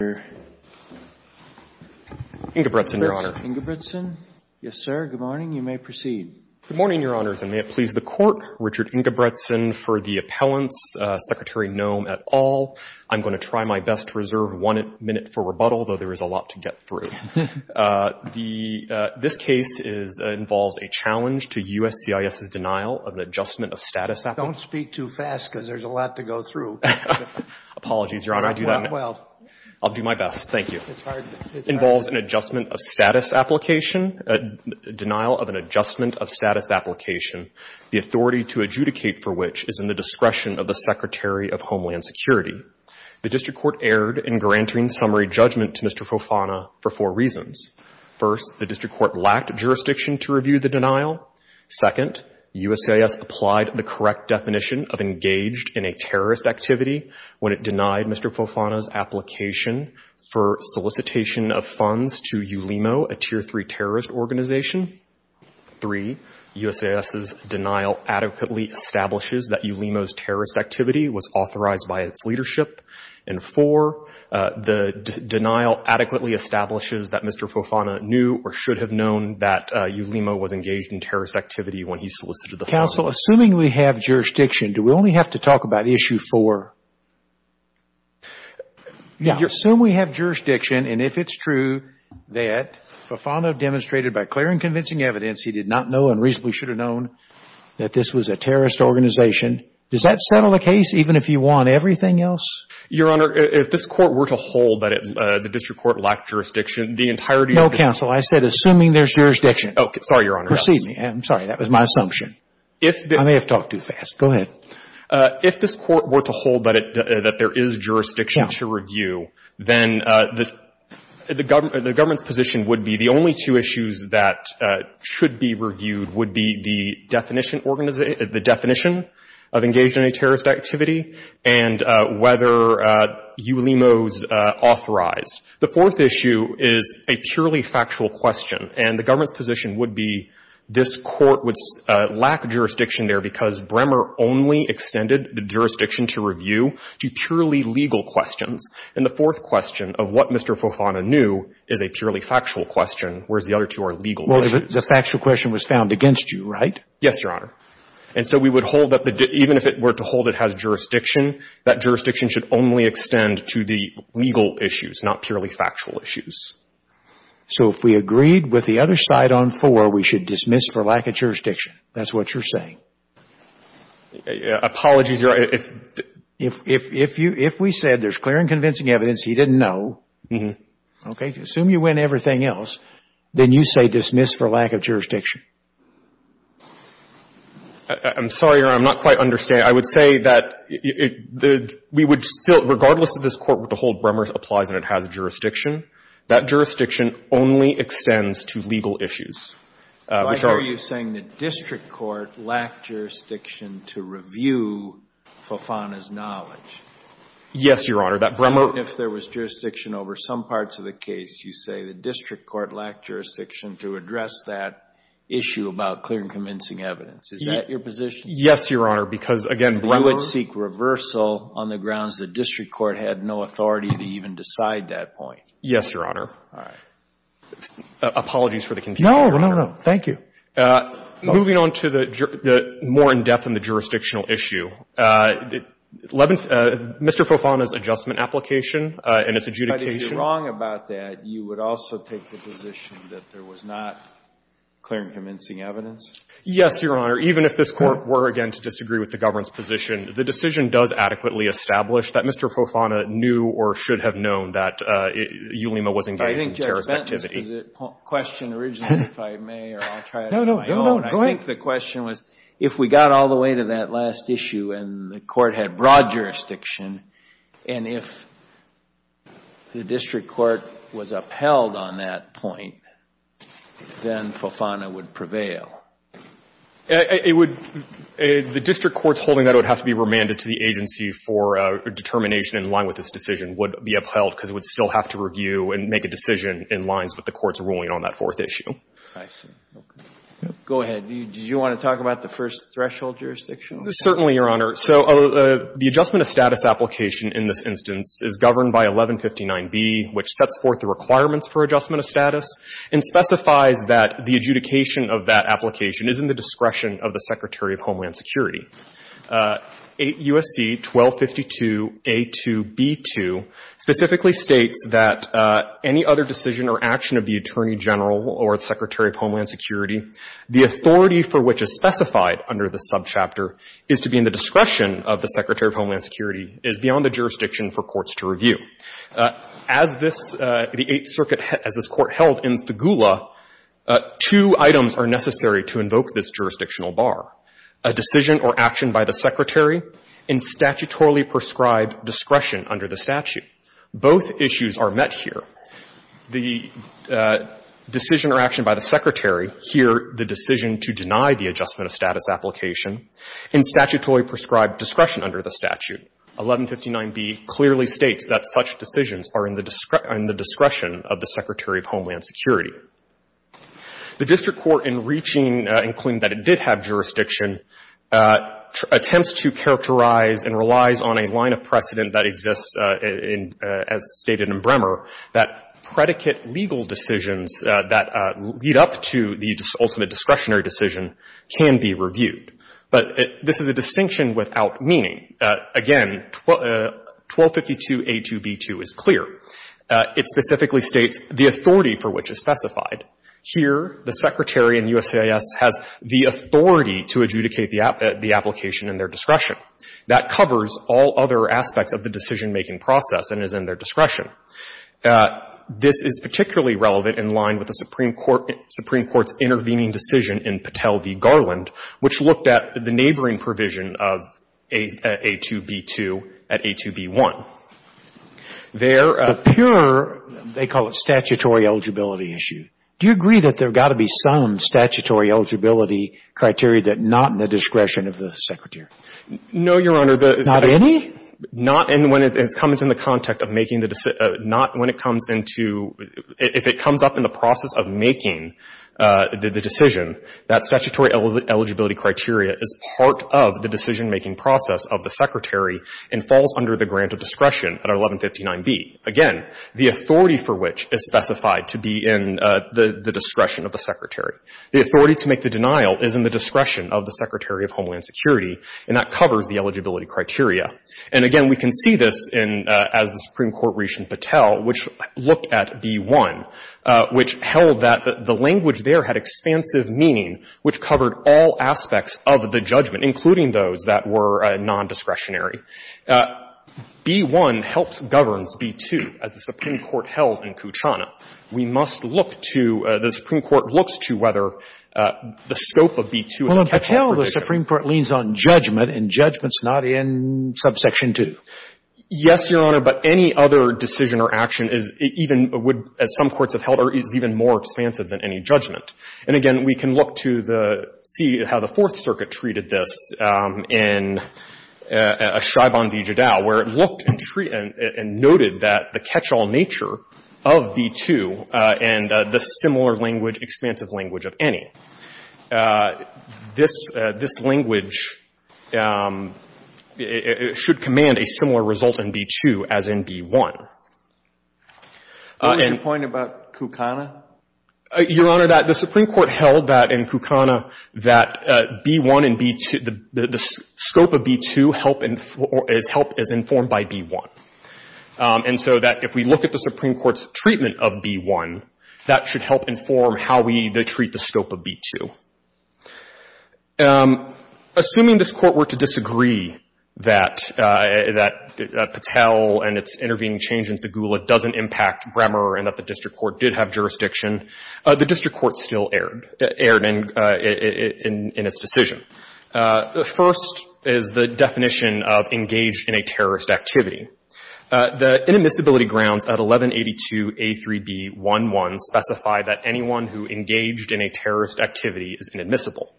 Richard Ingebretson, Your Honor. Mr. Ingebretson? Yes, sir. Good morning. You may proceed. Good morning, Your Honors. And may it please the Court, Richard Ingebretson for the appellants, Secretary Noem et al. I'm going to try my best to reserve one minute for rebuttal, though there is a lot to get through. This case involves a challenge to USCIS's denial of an adjustment of status appellate. Don't speak too fast, because there's a lot to go through. Apologies, Your Honor. I'll do my best. Thank you. It's hard. It involves an adjustment of status application, a denial of an adjustment of status application, the authority to adjudicate for which is in the discretion of the Secretary of Homeland Security. The district court erred in granting summary judgment to Mr. Fofana for four reasons. First, the district court lacked jurisdiction to review the denial. Second, USCIS applied the correct definition of engaged in a terrorist activity when it solicited Mr. Fofana's application for solicitation of funds to ULIMO, a Tier 3 terrorist organization. Three, USCIS's denial adequately establishes that ULIMO's terrorist activity was authorized by its leadership. And four, the denial adequately establishes that Mr. Fofana knew or should have known that ULIMO was engaged in terrorist activity when he solicited the funds. Counsel, assuming we have jurisdiction, do we only have to talk about issue four? Yeah. Assume we have jurisdiction, and if it's true that Fofana demonstrated by clear and convincing evidence he did not know and reasonably should have known that this was a terrorist organization, does that settle the case even if you want everything else? Your Honor, if this court were to hold that the district court lacked jurisdiction, the entirety of the – No, Counsel. I said assuming there's jurisdiction. Okay. Sorry, Your Honor. Excuse me. I'm sorry. That was my assumption. I may have talked too fast. Go ahead. If this court were to hold that there is jurisdiction to review, then the government's position would be the only two issues that should be reviewed would be the definition of engaged in any terrorist activity and whether ULIMO's authorized. The fourth issue is a purely factual question, and the government's position would be this court would lack jurisdiction there because Bremer only extended the jurisdiction to review to purely legal questions. And the fourth question of what Mr. Fofana knew is a purely factual question, whereas the other two are legal issues. Well, the factual question was found against you, right? Yes, Your Honor. And so we would hold that even if it were to hold it has jurisdiction, that jurisdiction should only extend to the legal issues, not purely factual issues. So if we agreed with the other side on four, we should dismiss for lack of jurisdiction. That's what you're saying? Apologies, Your Honor. If we said there's clear and convincing evidence he didn't know, okay, assume you win everything else, then you say dismiss for lack of jurisdiction. I'm sorry, Your Honor. I'm not quite understanding. I would say that we would still, regardless of this court with the whole Bremer applies and it has jurisdiction, that jurisdiction only extends to legal issues. I hear you saying the district court lacked jurisdiction to review Fofana's knowledge. Yes, Your Honor. That Bremer If there was jurisdiction over some parts of the case, you say the district court lacked jurisdiction to address that issue about clear and convincing evidence. Is that your position? Yes, Your Honor, because, again, Bremer You would seek reversal on the grounds the district court had no authority to even decide that point. Yes, Your Honor. All right. Apologies for the confusion. No, no, no. Thank you. Moving on to the more in-depth and the jurisdictional issue, Mr. Fofana's adjustment application and its adjudication But if you're wrong about that, you would also take the position that there was not clear and convincing evidence? Yes, Your Honor. Even if this Court were, again, to disagree with the government's position, the decision does adequately establish that Mr. Fofana knew or should have known that Ulema was engaged in terrorist activity. I think Judge Bentley's question originally, if I may, or I'll try it on my own. No, no. Go ahead. I think the question was, if we got all the way to that last issue and the Court had broad jurisdiction, and if the district court was upheld on that point, then Fofana would prevail? It would — the district court's holding that would have to be remanded to the agency for determination in line with this decision would be upheld because it would still have to review and make a decision in lines with the Court's ruling on that fourth issue. I see. Okay. Go ahead. Did you want to talk about the first threshold jurisdiction? Certainly, Your Honor. So the adjustment of status application in this instance is governed by 1159B, which sets forth the requirements for adjustment of status and specifies that the adjudication of that application is in the discretion of the Secretary of Homeland Security. 8 U.S.C. 1252A2B2 specifically states that any other decision or action of the Attorney General or the Secretary of Homeland Security, the authority for which is specified under the subchapter is to be in the discretion of the Secretary of Homeland Security is beyond the jurisdiction for courts to review. As this — the Eighth Circuit, as this Court held in Fugula, two items are necessary to invoke this jurisdictional bar, a decision or action by the Secretary in statutorily prescribed discretion under the statute. Both issues are met here. The decision or action by the Secretary, here the decision to deny the adjustment of status application in statutorily prescribed discretion under the statute. 1159B clearly states that such decisions are in the — are in the discretion of the Secretary of Homeland Security. The district court, in reaching and claiming that it did have jurisdiction, attempts to characterize and relies on a line of precedent that exists in — as stated in Bremer that predicate legal decisions that lead up to the ultimate discretionary decision can be reviewed. But this is a distinction without meaning. Again, 1252a2b2 is clear. It specifically states the authority for which is specified. Here, the Secretary in U.S.A.S. has the authority to adjudicate the application in their discretion. That covers all other aspects of the decisionmaking process and is in their discretion. This is particularly relevant in line with the Supreme Court's intervening decision in Patel v. Garland, which looked at the neighboring provision of a2b2 at a2b1. There appear — But pure — they call it statutory eligibility issue. Do you agree that there have got to be some statutory eligibility criteria that are not in the discretion of the Secretary? No, Your Honor. Not any? Not — and when it comes in the context of making the — not when it comes into — if it comes up in the process of making the decision, that statutory eligibility criteria is part of the decisionmaking process of the Secretary and falls under the grant of discretion at 1159b. Again, the authority for which is specified to be in the discretion of the Secretary. The authority to make the denial is in the discretion of the Secretary of Homeland Security, and that covers the eligibility criteria. And again, we can see this in — as the Supreme Court reached in Patel, which looked at b1, which held that the language there had expansive meaning, which covered all aspects of the judgment, including those that were nondiscretionary. b1 helps governs b2, as the Supreme Court held in Kuchana. We must look to — the Supreme Court looks to whether the scope of b2 is a catch-all The Supreme Court leans on judgment, and judgment's not in subsection 2. Yes, Your Honor, but any other decision or action is even — would, as some courts have held, is even more expansive than any judgment. And again, we can look to the — see how the Fourth Circuit treated this in Chaiban v. Judau, where it looked and noted that the catch-all nature of b2 and the similar language, expansive language of any. This — this language should command a similar result in b2 as in b1. What was your point about Kuchana? Your Honor, that the Supreme Court held that in Kuchana, that b1 and b2 — the scope of b2 help — help as informed by b1. And so that if we look at the Supreme Court's treatment of b1, that should help inform how we treat the scope of b2. Assuming this Court were to disagree that — that Patel and its intervening change in Tagula doesn't impact Bremer and that the district court did have jurisdiction, the district court still erred — erred in its decision. The first is the definition of engaged in a terrorist activity. The inadmissibility grounds at 1182a3b11 specify that anyone who engaged in a terrorist activity is inadmissible.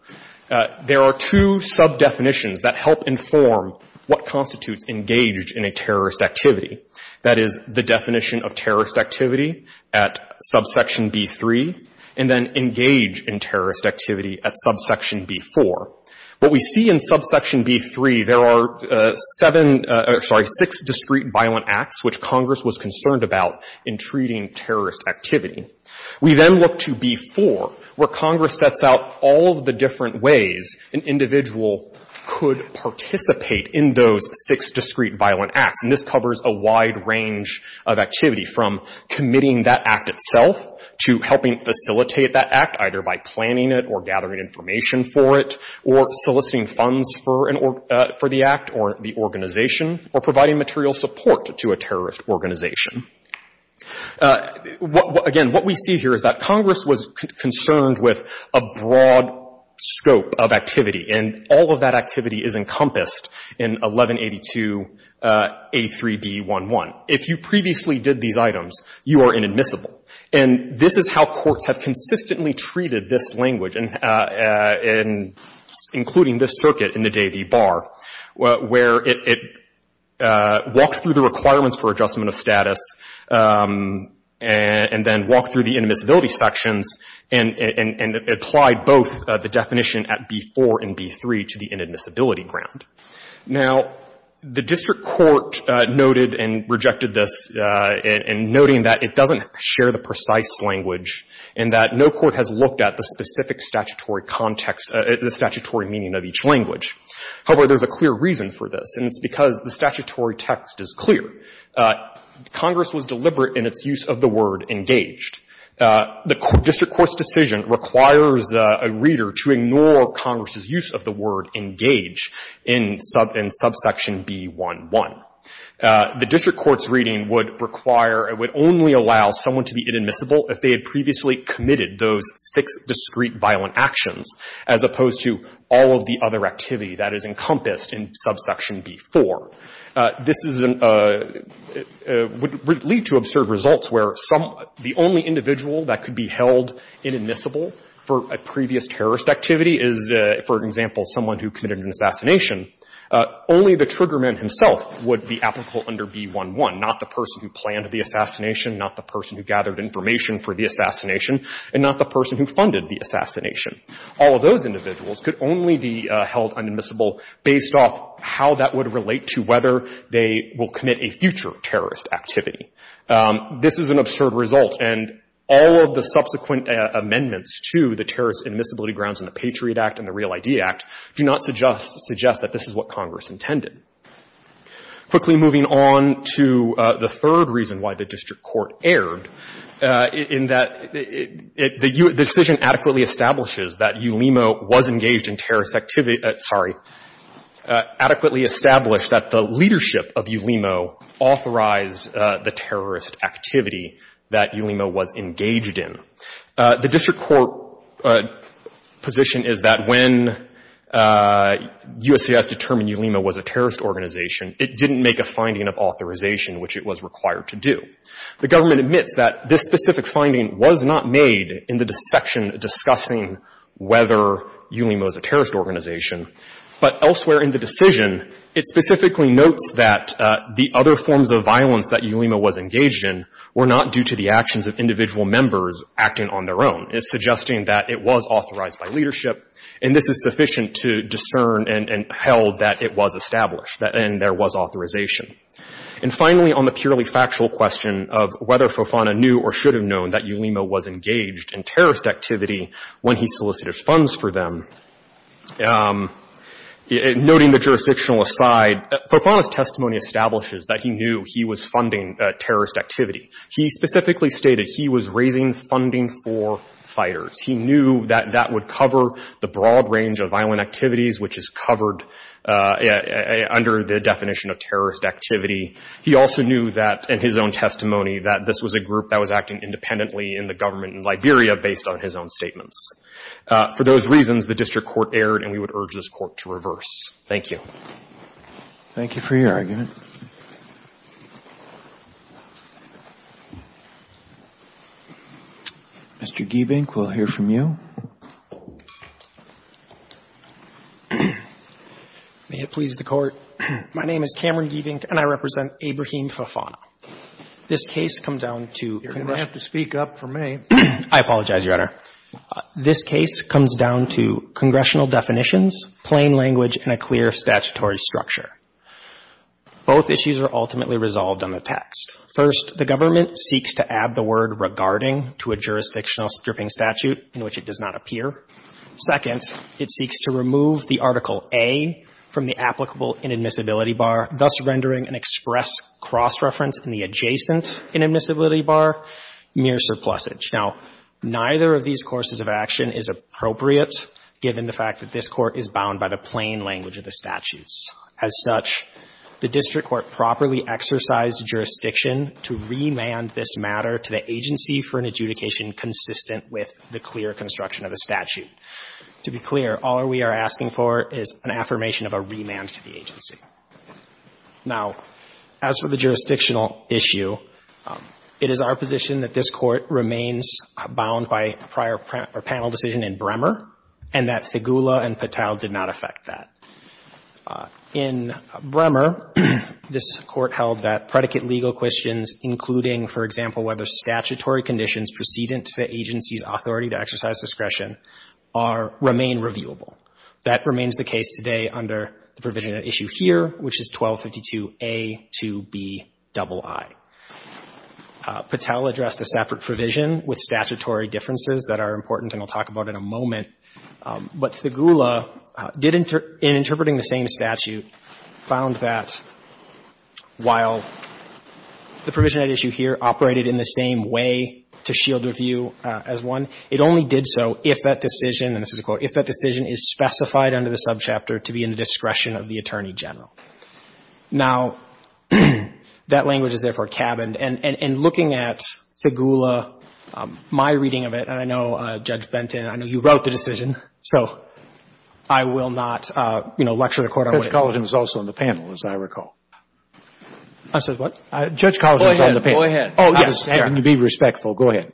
There are two sub-definitions that help inform what constitutes engaged in a terrorist activity. That is, the definition of terrorist activity at subsection b3, and then engage in terrorist activity at subsection b4. What we see in subsection b3, there are seven — sorry, six discrete violent acts which Congress was concerned about in treating terrorist activity. We then look to b4, where Congress sets out all of the different ways an individual could participate in those six discrete violent acts. And this covers a wide range of activity, from committing that act itself to helping facilitate that act, either by planning it or gathering information for it, or soliciting funds for an — for the act or the organization, or providing material support to a terrorist organization. Again, what we see here is that Congress was concerned with a broad scope of activity, and all of that activity is encompassed in 1182a3b11. If you previously did these items, you are inadmissible. And this is how courts have consistently treated this language, including this circuit in the Day v. Barr, where it walked through the requirements for adjustment of status and then walked through the inadmissibility sections and applied both the definition at b4 and b3 to the inadmissibility ground. Now, the district court noted and rejected this in noting that it doesn't share the precise language and that no court has looked at the specific statutory context — the statutory meaning of each language. However, there's a clear reason for this, and it's because the statutory text is clear. Congress was deliberate in its use of the word engaged. The district court's decision requires a reader to ignore Congress's use of the word engage in subsection b11. The district court's reading would require and would only allow someone to be inadmissible if they had previously committed those six discrete violent actions, as opposed to all of the other activity that is encompassed in subsection b4. This is an — would lead to absurd results where some — the only individual that could be held inadmissible for a previous terrorist activity is, for example, someone who committed an assassination. Only the trigger man himself would be applicable under b11, not the person who planned the assassination, not the person who gathered information for the assassination, and not the person who funded the assassination. All of those individuals could only be held inadmissible based off how that would relate to whether they will commit a future terrorist activity. This is an absurd result, and all of the subsequent amendments to the Terrorist Act, this is what Congress intended. Quickly moving on to the third reason why the district court erred, in that it — the decision adequately establishes that ULIMO was engaged in terrorist activity — sorry, adequately established that the leadership of ULIMO authorized the terrorist activity that ULIMO was engaged in. The district court position is that when USCIS determined ULIMO was a terrorist organization, it didn't make a finding of authorization, which it was required to do. The government admits that this specific finding was not made in the section discussing whether ULIMO is a terrorist organization, but elsewhere in the decision, it specifically notes that the other forms of violence that ULIMO was engaged in were not due to the actions of individual members acting on their own. It's suggesting that it was authorized by leadership, and this is sufficient to discern and — and held that it was established, that — and there was authorization. And finally, on the purely factual question of whether Fofana knew or should have known that ULIMO was engaged in terrorist activity when he solicited funds for them, noting the jurisdictional aside, Fofana's testimony establishes that he knew he was funding terrorist activity. He specifically stated he was raising funding for fighters. He knew that that would cover the broad range of violent activities, which is covered under the definition of terrorist activity. He also knew that, in his own testimony, that this was a group that was acting independently in the government in Liberia based on his own statements. For those reasons, the district court erred, and we would urge this court to reverse. Thank you. Thank you for your argument. Mr. Giebink, we'll hear from you. May it please the Court, my name is Cameron Giebink, and I represent Abrahim Fofana. This case come down to — You're going to have to speak up for me. I apologize, Your Honor. This case comes down to congressional definitions, plain language, and a clear statutory structure. Both issues are ultimately resolved on the text. First, the government seeks to add the word regarding to a jurisdictional stripping statute in which it does not appear. Second, it seeks to remove the Article A from the applicable inadmissibility bar, thus rendering an express cross-reference in the adjacent inadmissibility bar mere surplusage. Now, neither of these courses of action is appropriate given the fact that this Court is bound by the plain language of the statutes. As such, the district court properly exercised jurisdiction to remand this matter to the agency for an adjudication consistent with the clear construction of the statute. To be clear, all we are asking for is an affirmation of a remand to the agency. Now, as for the jurisdictional issue, it is our position that this Court remains bound by prior panel decision in Bremer and that Figula and Patel did not affect that. In Bremer, this Court held that predicate legal questions, including, for example, whether statutory conditions precedent to the agency's authority to exercise discretion, are — remain reviewable. That remains the case today under the provision at issue here, which is 1252A2Bii. Patel addressed a separate provision with statutory differences that are important and I'll talk about in a moment. But Figula did — in interpreting the same statute, found that while the provision at issue here operated in the same way to shield review as one, it only did so if that decision is specified under the subchapter to be in the discretion of the Attorney General. Now, that language is, therefore, cabined. And looking at Figula, my reading of it, and I know, Judge Benton, I know you wrote the decision, so I will not, you know, lecture the Court on it. Judge Colligan is also on the panel, as I recall. I said what? Judge Colligan is on the panel. Go ahead. Oh, yes. And to be respectful, go ahead.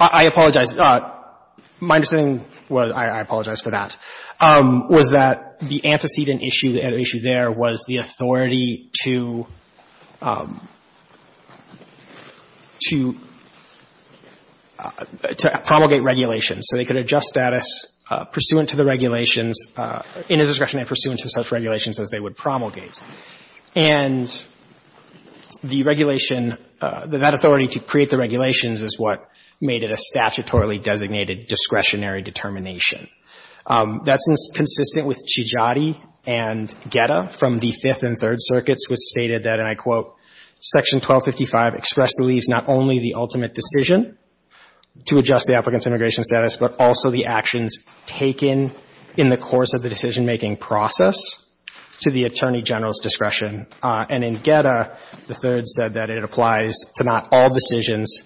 I apologize. My understanding was — I apologize for that — was that the antecedent issue, the issue there was the authority to — to promulgate regulations. So they could adjust status pursuant to the regulations in his discretion and pursuant to such regulations as they would promulgate. And the regulation — that authority to create the regulations is what made it a statutory and federally designated discretionary determination. That's consistent with Chidjadi and Geta from the Fifth and Third Circuits, which stated that, and I quote, Section 1255 expressed the leaves not only the ultimate decision to adjust the applicant's immigration status, but also the actions taken in the course of the decision-making process to the Attorney General's discretion. And in Geta, the Third said that it applies to not all decisions,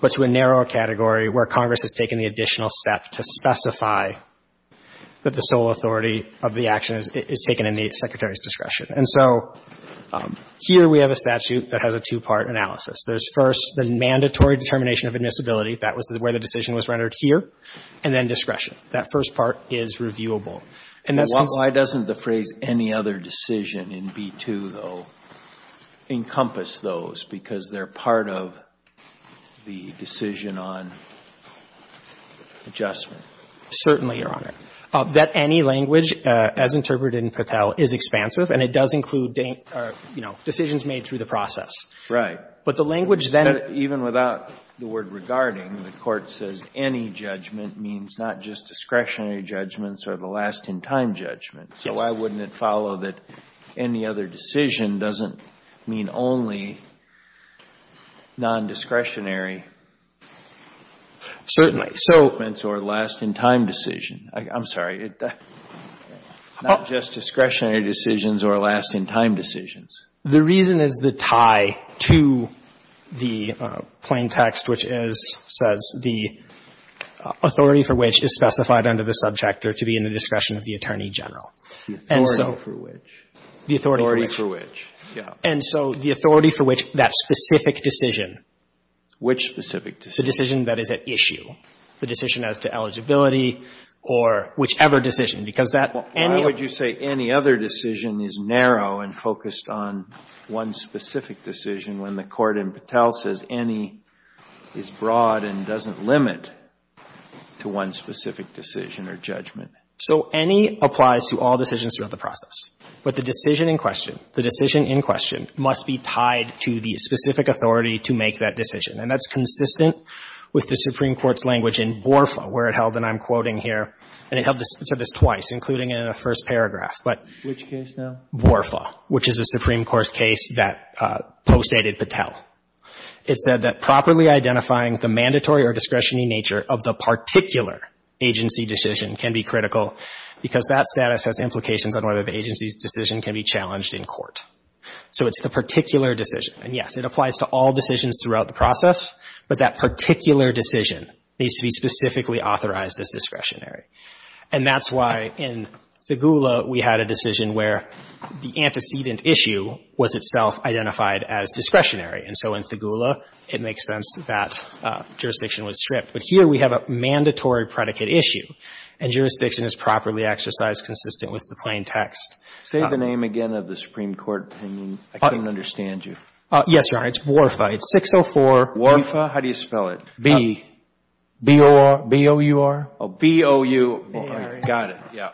but to a narrower category where Congress has taken the additional step to specify that the sole authority of the action is taken in the Secretary's discretion. And so here we have a statute that has a two-part analysis. There's first the mandatory determination of admissibility. That was where the decision was rendered here. And then discretion. That first part is reviewable. And that's consistent — Why doesn't the phrase any other decision in B-2, though, encompass those? Because they're part of the decision on adjustment. Certainly, Your Honor. That any language, as interpreted in Patel, is expansive, and it does include, you know, decisions made through the process. Right. But the language then — Even without the word regarding, the Court says any judgment means not just discretionary judgments or the last-in-time judgment. Yes. Why wouldn't it follow that any other decision doesn't mean only non-discretionary judgments or last-in-time decision? I'm sorry. Not just discretionary decisions or last-in-time decisions. The reason is the tie to the plain text, which says the authority for which is specified under the subject are to be in the discretion of the Attorney General. The authority for which. The authority for which. The authority for which. Yeah. And so the authority for which that specific decision — Which specific decision? The decision that is at issue, the decision as to eligibility or whichever decision, because that any — Why would you say any other decision is narrow and focused on one specific decision when the court in Patel says any is broad and doesn't limit to one specific decision or judgment? So any applies to all decisions throughout the process. But the decision in question, the decision in question must be tied to the specific authority to make that decision, and that's consistent with the Supreme Court's language in Borfa, where it held, and I'm quoting here, and it held this — it said this twice, including it in the first paragraph, but — Which case now? Borfa, which is a Supreme Court case that postdated Patel. It said that properly identifying the mandatory or discretionary nature of the particular agency decision can be critical because that status has implications on whether the agency's decision can be challenged in court. So it's the particular decision. And, yes, it applies to all decisions throughout the process, but that particular decision needs to be specifically authorized as discretionary. And that's why in Thigoula, we had a decision where the antecedent issue was itself identified as discretionary. And so in Thigoula, it makes sense that jurisdiction was stripped. But here we have a mandatory predicate issue, and jurisdiction is properly exercised consistent with the plain text. Say the name again of the Supreme Court. I mean, I couldn't understand you. Yes, Your Honor. It's Borfa. It's 604. Borfa? How do you spell it? B. B-O-R. B-O-U-R. B-O-U. Got it. Yeah.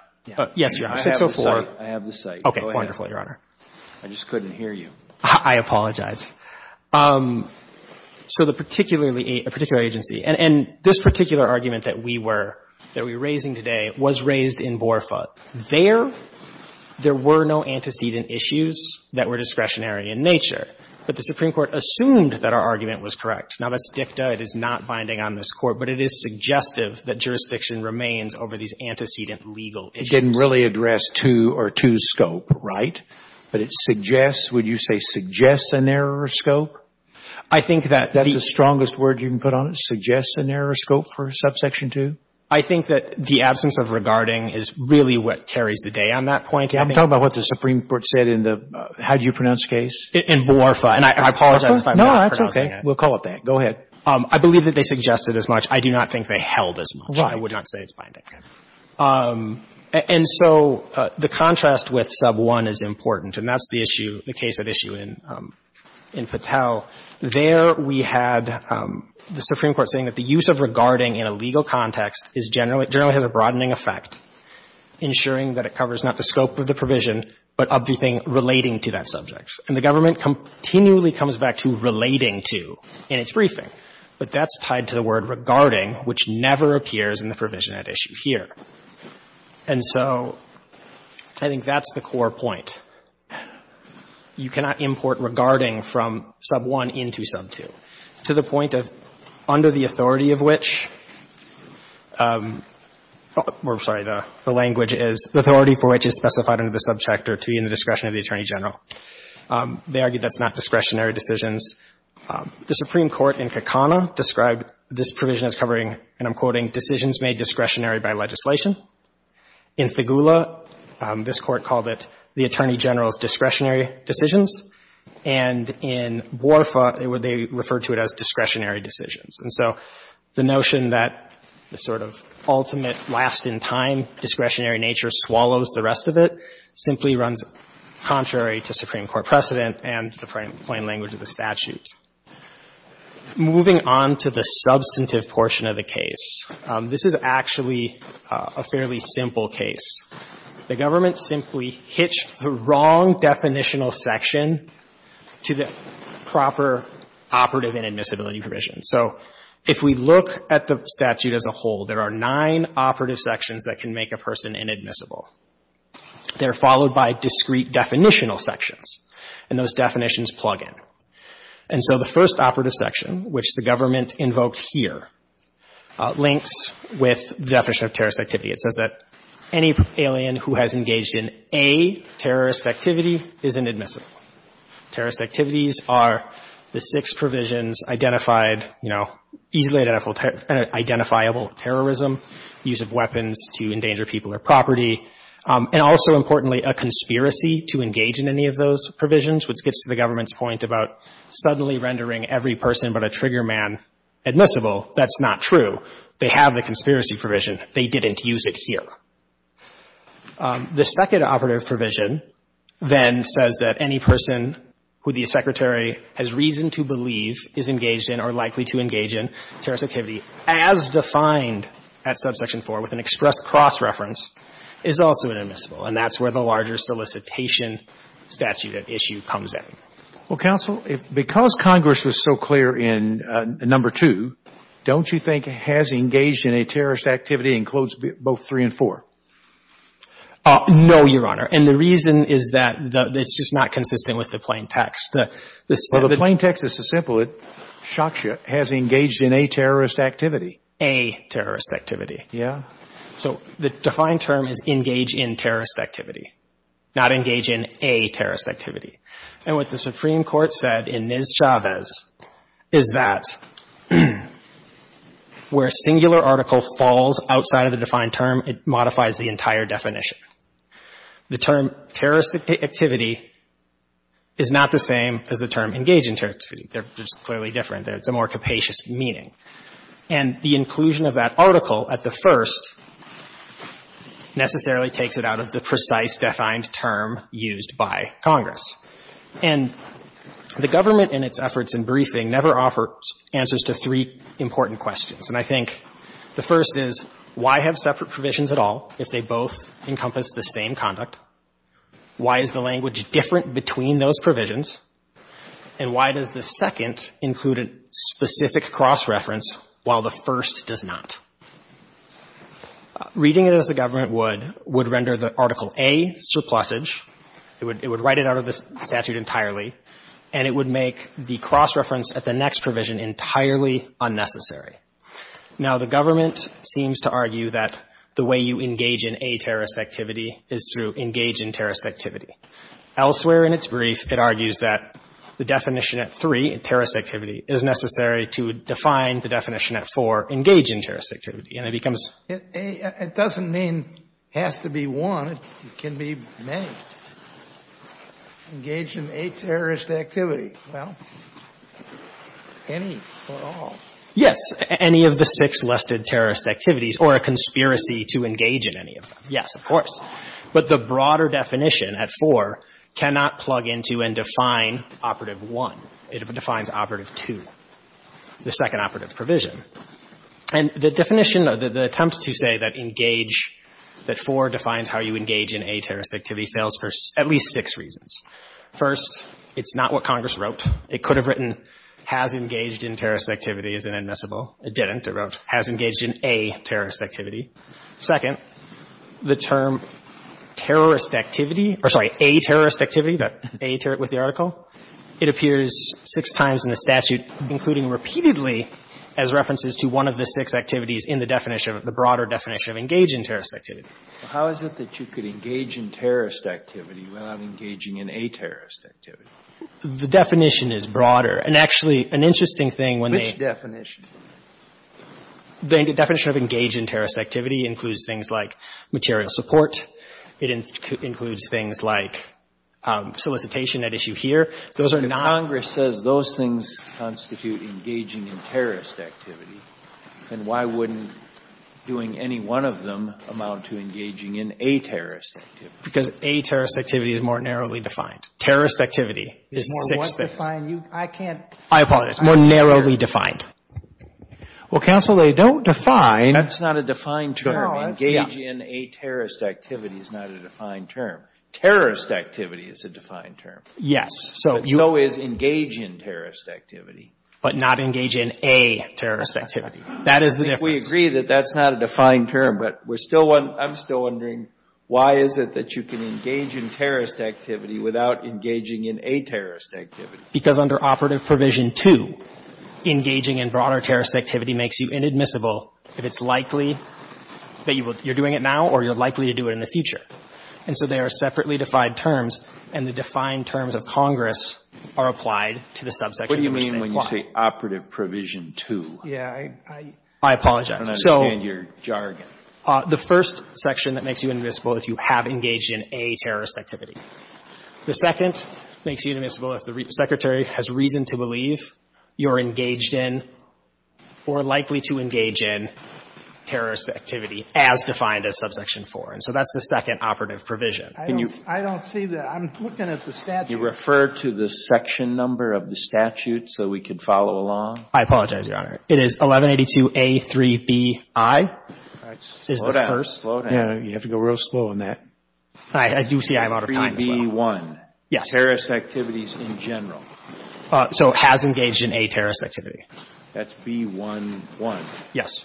Yes, Your Honor. 604. I have the site. Okay. Wonderful, Your Honor. I just couldn't hear you. I apologize. So the particular agency, and this particular argument that we were raising today was raised in Borfa. There, there were no antecedent issues that were discretionary in nature. But the Supreme Court assumed that our argument was correct. Now, that's dicta. It is not binding on this Court. But it is suggestive that jurisdiction remains over these antecedent legal issues. It didn't really address two or two's scope, right? But it suggests, would you say suggests an error of scope? I think that's the strongest word you can put on it, suggests an error of scope for Subsection 2. I think that the absence of regarding is really what carries the day on that point. I'm talking about what the Supreme Court said in the, how do you pronounce the case? In Borfa. And I apologize if I'm not pronouncing it. We'll call it that. Go ahead. I believe that they suggested as much. I do not think they held as much. Right. I would not say it's binding. Okay. And so the contrast with Sub 1 is important. And that's the issue, the case at issue in Patel. There we had the Supreme Court saying that the use of regarding in a legal context is generally, generally has a broadening effect, ensuring that it covers not the scope of the provision, but of the thing relating to that subject. And the government continually comes back to relating to in its briefing. But that's tied to the word regarding, which never appears in the provision at issue here. And so I think that's the core point. You cannot import regarding from Sub 1 into Sub 2 to the point of under the authority of which we're sorry, the language is the authority for which is specified under the subject or to be in the discretion of the Attorney General. They argue that's not discretionary decisions. The Supreme Court in Kakana described this provision as covering, and I'm quoting, decisions made discretionary by legislation. In Figula, this Court called it the Attorney General's discretionary decisions. And in Borfa, they referred to it as discretionary decisions. And so the notion that the sort of ultimate last-in-time discretionary nature swallows the rest of it simply runs contrary to Supreme Court precedent and the plain language of the statute. Moving on to the substantive portion of the case, this is actually a fairly simple case. The government simply hitched the wrong definitional section to the proper operative inadmissibility provision. So if we look at the statute as a whole, there are nine operative sections that can make a person inadmissible. They're followed by discrete definitional sections, and those definitions plug in. And so the first operative section, which the government invoked here, links with the definition of terrorist activity. It says that any alien who has engaged in a terrorist activity is inadmissible. Terrorist activities are the six provisions identified, you know, easily identifiable terrorism, use of weapons to endanger people or property, and also, importantly, a conspiracy to engage in any of those provisions, which gets to the government's point about suddenly rendering every person but a trigger man admissible. That's not true. They have the conspiracy provision. They didn't use it here. The second operative provision then says that any person who the Secretary has reason to believe is engaged in or likely to engage in terrorist activity, as defined at subsection 4 with an express cross-reference, is also inadmissible. And that's where the larger solicitation statute issue comes in. Well, counsel, because Congress was so clear in number 2, don't you think has engaged in a terrorist activity includes both 3 and 4? No, Your Honor. And the reason is that it's just not consistent with the plain text. Well, the plain text is so simple. It shocks you. Has engaged in a terrorist activity. A terrorist activity. Yeah. So the defined term is engage in terrorist activity, not engage in a terrorist activity. And what the Supreme Court said in Ms. Chavez is that where a singular article falls outside of the defined term, it modifies the entire definition. The term terrorist activity is not the same as the term engage in terrorist activity. They're just clearly different. It's a more capacious meaning. And the inclusion of that article at the first necessarily takes it out of the precise defined term used by Congress. And the government in its efforts in briefing never offers answers to 3 important questions. And I think the first is why have separate provisions at all if they both encompass the same conduct? Why is the language different between those provisions? And why does the second include a specific cross-reference while the first does not? Reading it as the government would, would render the Article A surplusage. It would write it out of the statute entirely. And it would make the cross-reference at the next provision entirely unnecessary. Now, the government seems to argue that the way you engage in a terrorist activity is through engage in terrorist activity. Elsewhere in its brief, it argues that the definition at 3, terrorist activity, is necessary to define the definition at 4, engage in terrorist activity. And it becomes — It doesn't mean has to be one. It can be many. Engage in a terrorist activity. Well, any or all. Yes. Any of the six listed terrorist activities or a conspiracy to engage in any of them. Yes, of course. But the broader definition at 4 cannot plug into and define operative 1. It defines operative 2, the second operative provision. And the definition, the attempt to say that engage, that 4 defines how you engage in a terrorist activity fails for at least six reasons. First, it's not what Congress wrote. It could have written has engaged in terrorist activity as an admissible. It didn't. It wrote has engaged in a terrorist activity. Second, the term terrorist activity, or sorry, a terrorist activity, that a with the article, it appears six times in the statute, including repeatedly as references to one of the six activities in the definition, the broader definition of engage in terrorist activity. How is it that you could engage in terrorist activity without engaging in a terrorist activity? The definition is broader. And actually, an interesting thing when they ---- Which definition? The definition of engage in terrorist activity includes things like material support. It includes things like solicitation at issue here. Those are not ---- If Congress says those things constitute engaging in terrorist activity, then why wouldn't doing any one of them amount to engaging in a terrorist activity? Because a terrorist activity is more narrowly defined. Terrorist activity is the sixth thing. I can't ---- I apologize. More narrowly defined. Well, counsel, they don't define ---- That's not a defined term. Engage in a terrorist activity is not a defined term. Terrorist activity is a defined term. Yes. So you ---- But so is engage in terrorist activity. But not engage in a terrorist activity. That is the difference. I think we agree that that's not a defined term. But we're still one ---- I'm still wondering why is it that you can engage in terrorist activity without engaging in a terrorist activity? Because under Operative Provision 2, engaging in broader terrorist activity makes you inadmissible if it's likely that you're doing it now or you're likely to do it in the future. And so they are separately defined terms, and the defined terms of Congress are applied to the subsections in which they apply. What do you mean when you say Operative Provision 2? Yeah, I ---- I apologize. I don't understand your jargon. The first section that makes you inadmissible if you have engaged in a terrorist activity. The second makes you inadmissible if the Secretary has reason to believe you're engaged in or likely to engage in terrorist activity as defined as Subsection 4. And so that's the second Operative Provision. Can you ---- I don't see the ---- I'm looking at the statute. You refer to the section number of the statute so we could follow along? I apologize, Your Honor. It is 1182A3BI. All right. Slow down. Slow down. You have to go real slow on that. I do see I'm out of time as well. Yes. Terrorist activities in general. So has engaged in a terrorist activity. That's B11. Yes.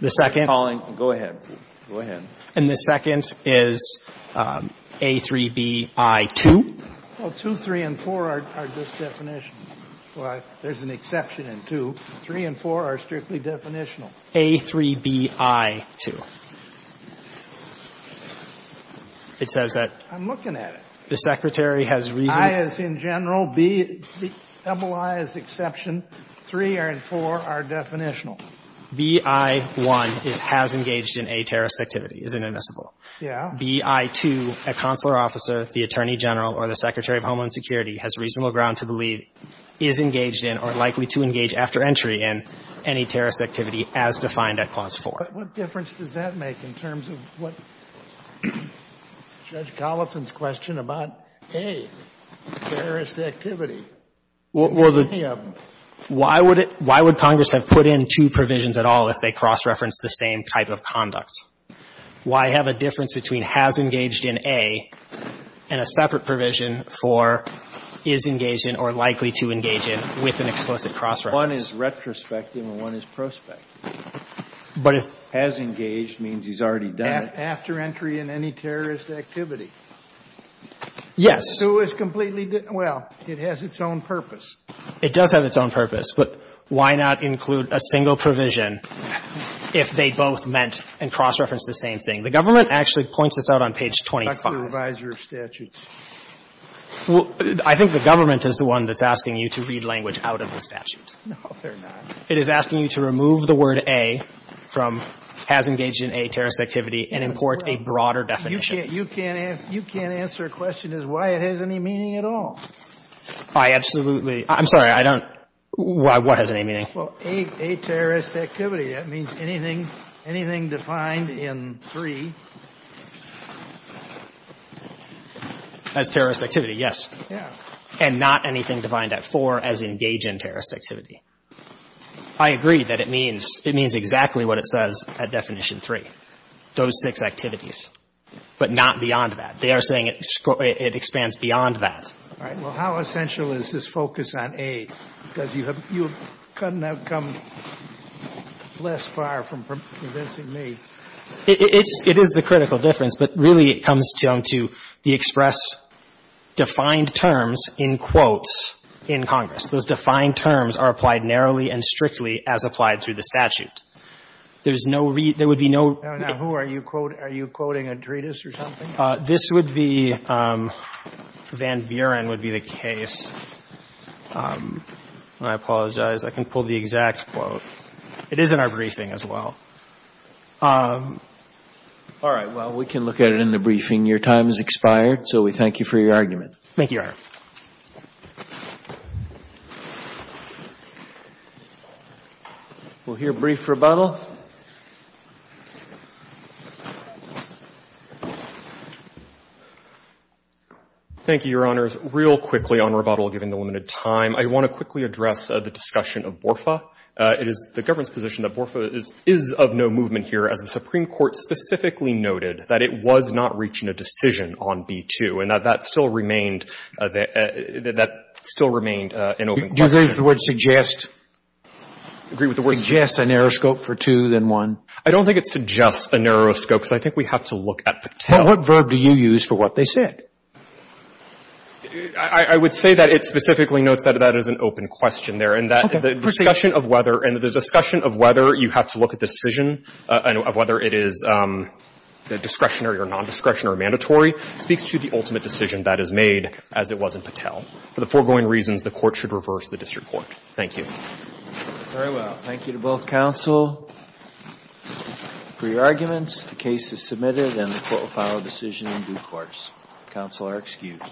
The second ---- Go ahead. Go ahead. And the second is A3BI2? Well, 2, 3, and 4 are just definitions. There's an exception in 2. 3 and 4 are strictly definitional. A3BI2. It says that ---- I'm looking at it. The Secretary has reason to ---- I as in general, BI as exception, 3 and 4 are definitional. BI1 is has engaged in a terrorist activity, is inadmissible. Yes. BI2, a consular officer, the Attorney General, or the Secretary of Homeland Security has reasonable ground to believe is engaged in or likely to engage after entry in any terrorist activity as defined at Clause 4. But what difference does that make in terms of what Judge Collison's question about A, terrorist activity? Well, the ---- Why would Congress have put in two provisions at all if they cross-referenced the same type of conduct? Why have a difference between has engaged in A and a separate provision for is engaged in or likely to engage in with an explicit cross-reference? One is retrospective and one is prospective. But if ---- Has engaged means he's already done it. After entry in any terrorist activity. Yes. So it was completely ---- well, it has its own purpose. It does have its own purpose. But why not include a single provision if they both meant and cross-referenced the same thing? The government actually points this out on page 25. That's the reviser of statutes. I think the government is the one that's asking you to read language out of the statute. No, they're not. It is asking you to remove the word A from has engaged in A terrorist activity and import a broader definition. You can't answer a question as why it has any meaning at all. I absolutely ---- I'm sorry. I don't ---- what has any meaning? Well, A terrorist activity, that means anything defined in 3. As terrorist activity, yes. Yes. And not anything defined at 4 as engage in terrorist activity. I agree that it means exactly what it says at definition 3, those six activities, but not beyond that. They are saying it expands beyond that. All right. Well, how essential is this focus on A? Because you couldn't have come less far from convincing me. It is the critical difference, but really it comes down to the express defined terms in quotes in Congress. Those defined terms are applied narrowly and strictly as applied through the statute. There's no ---- there would be no ---- Now, who are you quoting? Are you quoting a treatise or something? This would be ---- Van Buren would be the case. I apologize. I can pull the exact quote. It is in our briefing as well. All right. Well, we can look at it in the briefing. Your time has expired, so we thank you for your argument. Thank you, Your Honor. We'll hear brief rebuttal. Thank you, Your Honors. Real quickly on rebuttal, given the limited time, I want to quickly address the discussion of BORFA. It is the government's position that BORFA is of no movement here, as the Supreme Court specifically noted, that it was not reaching a decision on B2, and that that still remained a ---- that that still remained an open question. Do you agree with the word suggest? I agree with the word suggest. Suggest a narrow scope for two than one? I don't think it suggests a narrow scope, because I think we have to look at the Well, what verb do you use for what they said? I would say that it specifically notes that that is an open question there, and that the discussion of whether ---- And the discussion of whether you have to look at decision, of whether it is discretionary or non-discretionary or mandatory speaks to the ultimate decision that is made, as it was in Patel. For the foregoing reasons, the Court should reverse the disreport. Thank you. Very well. Thank you to both counsel for your arguments. The case is submitted, and the Court will file a decision in due course. Counsel are excused.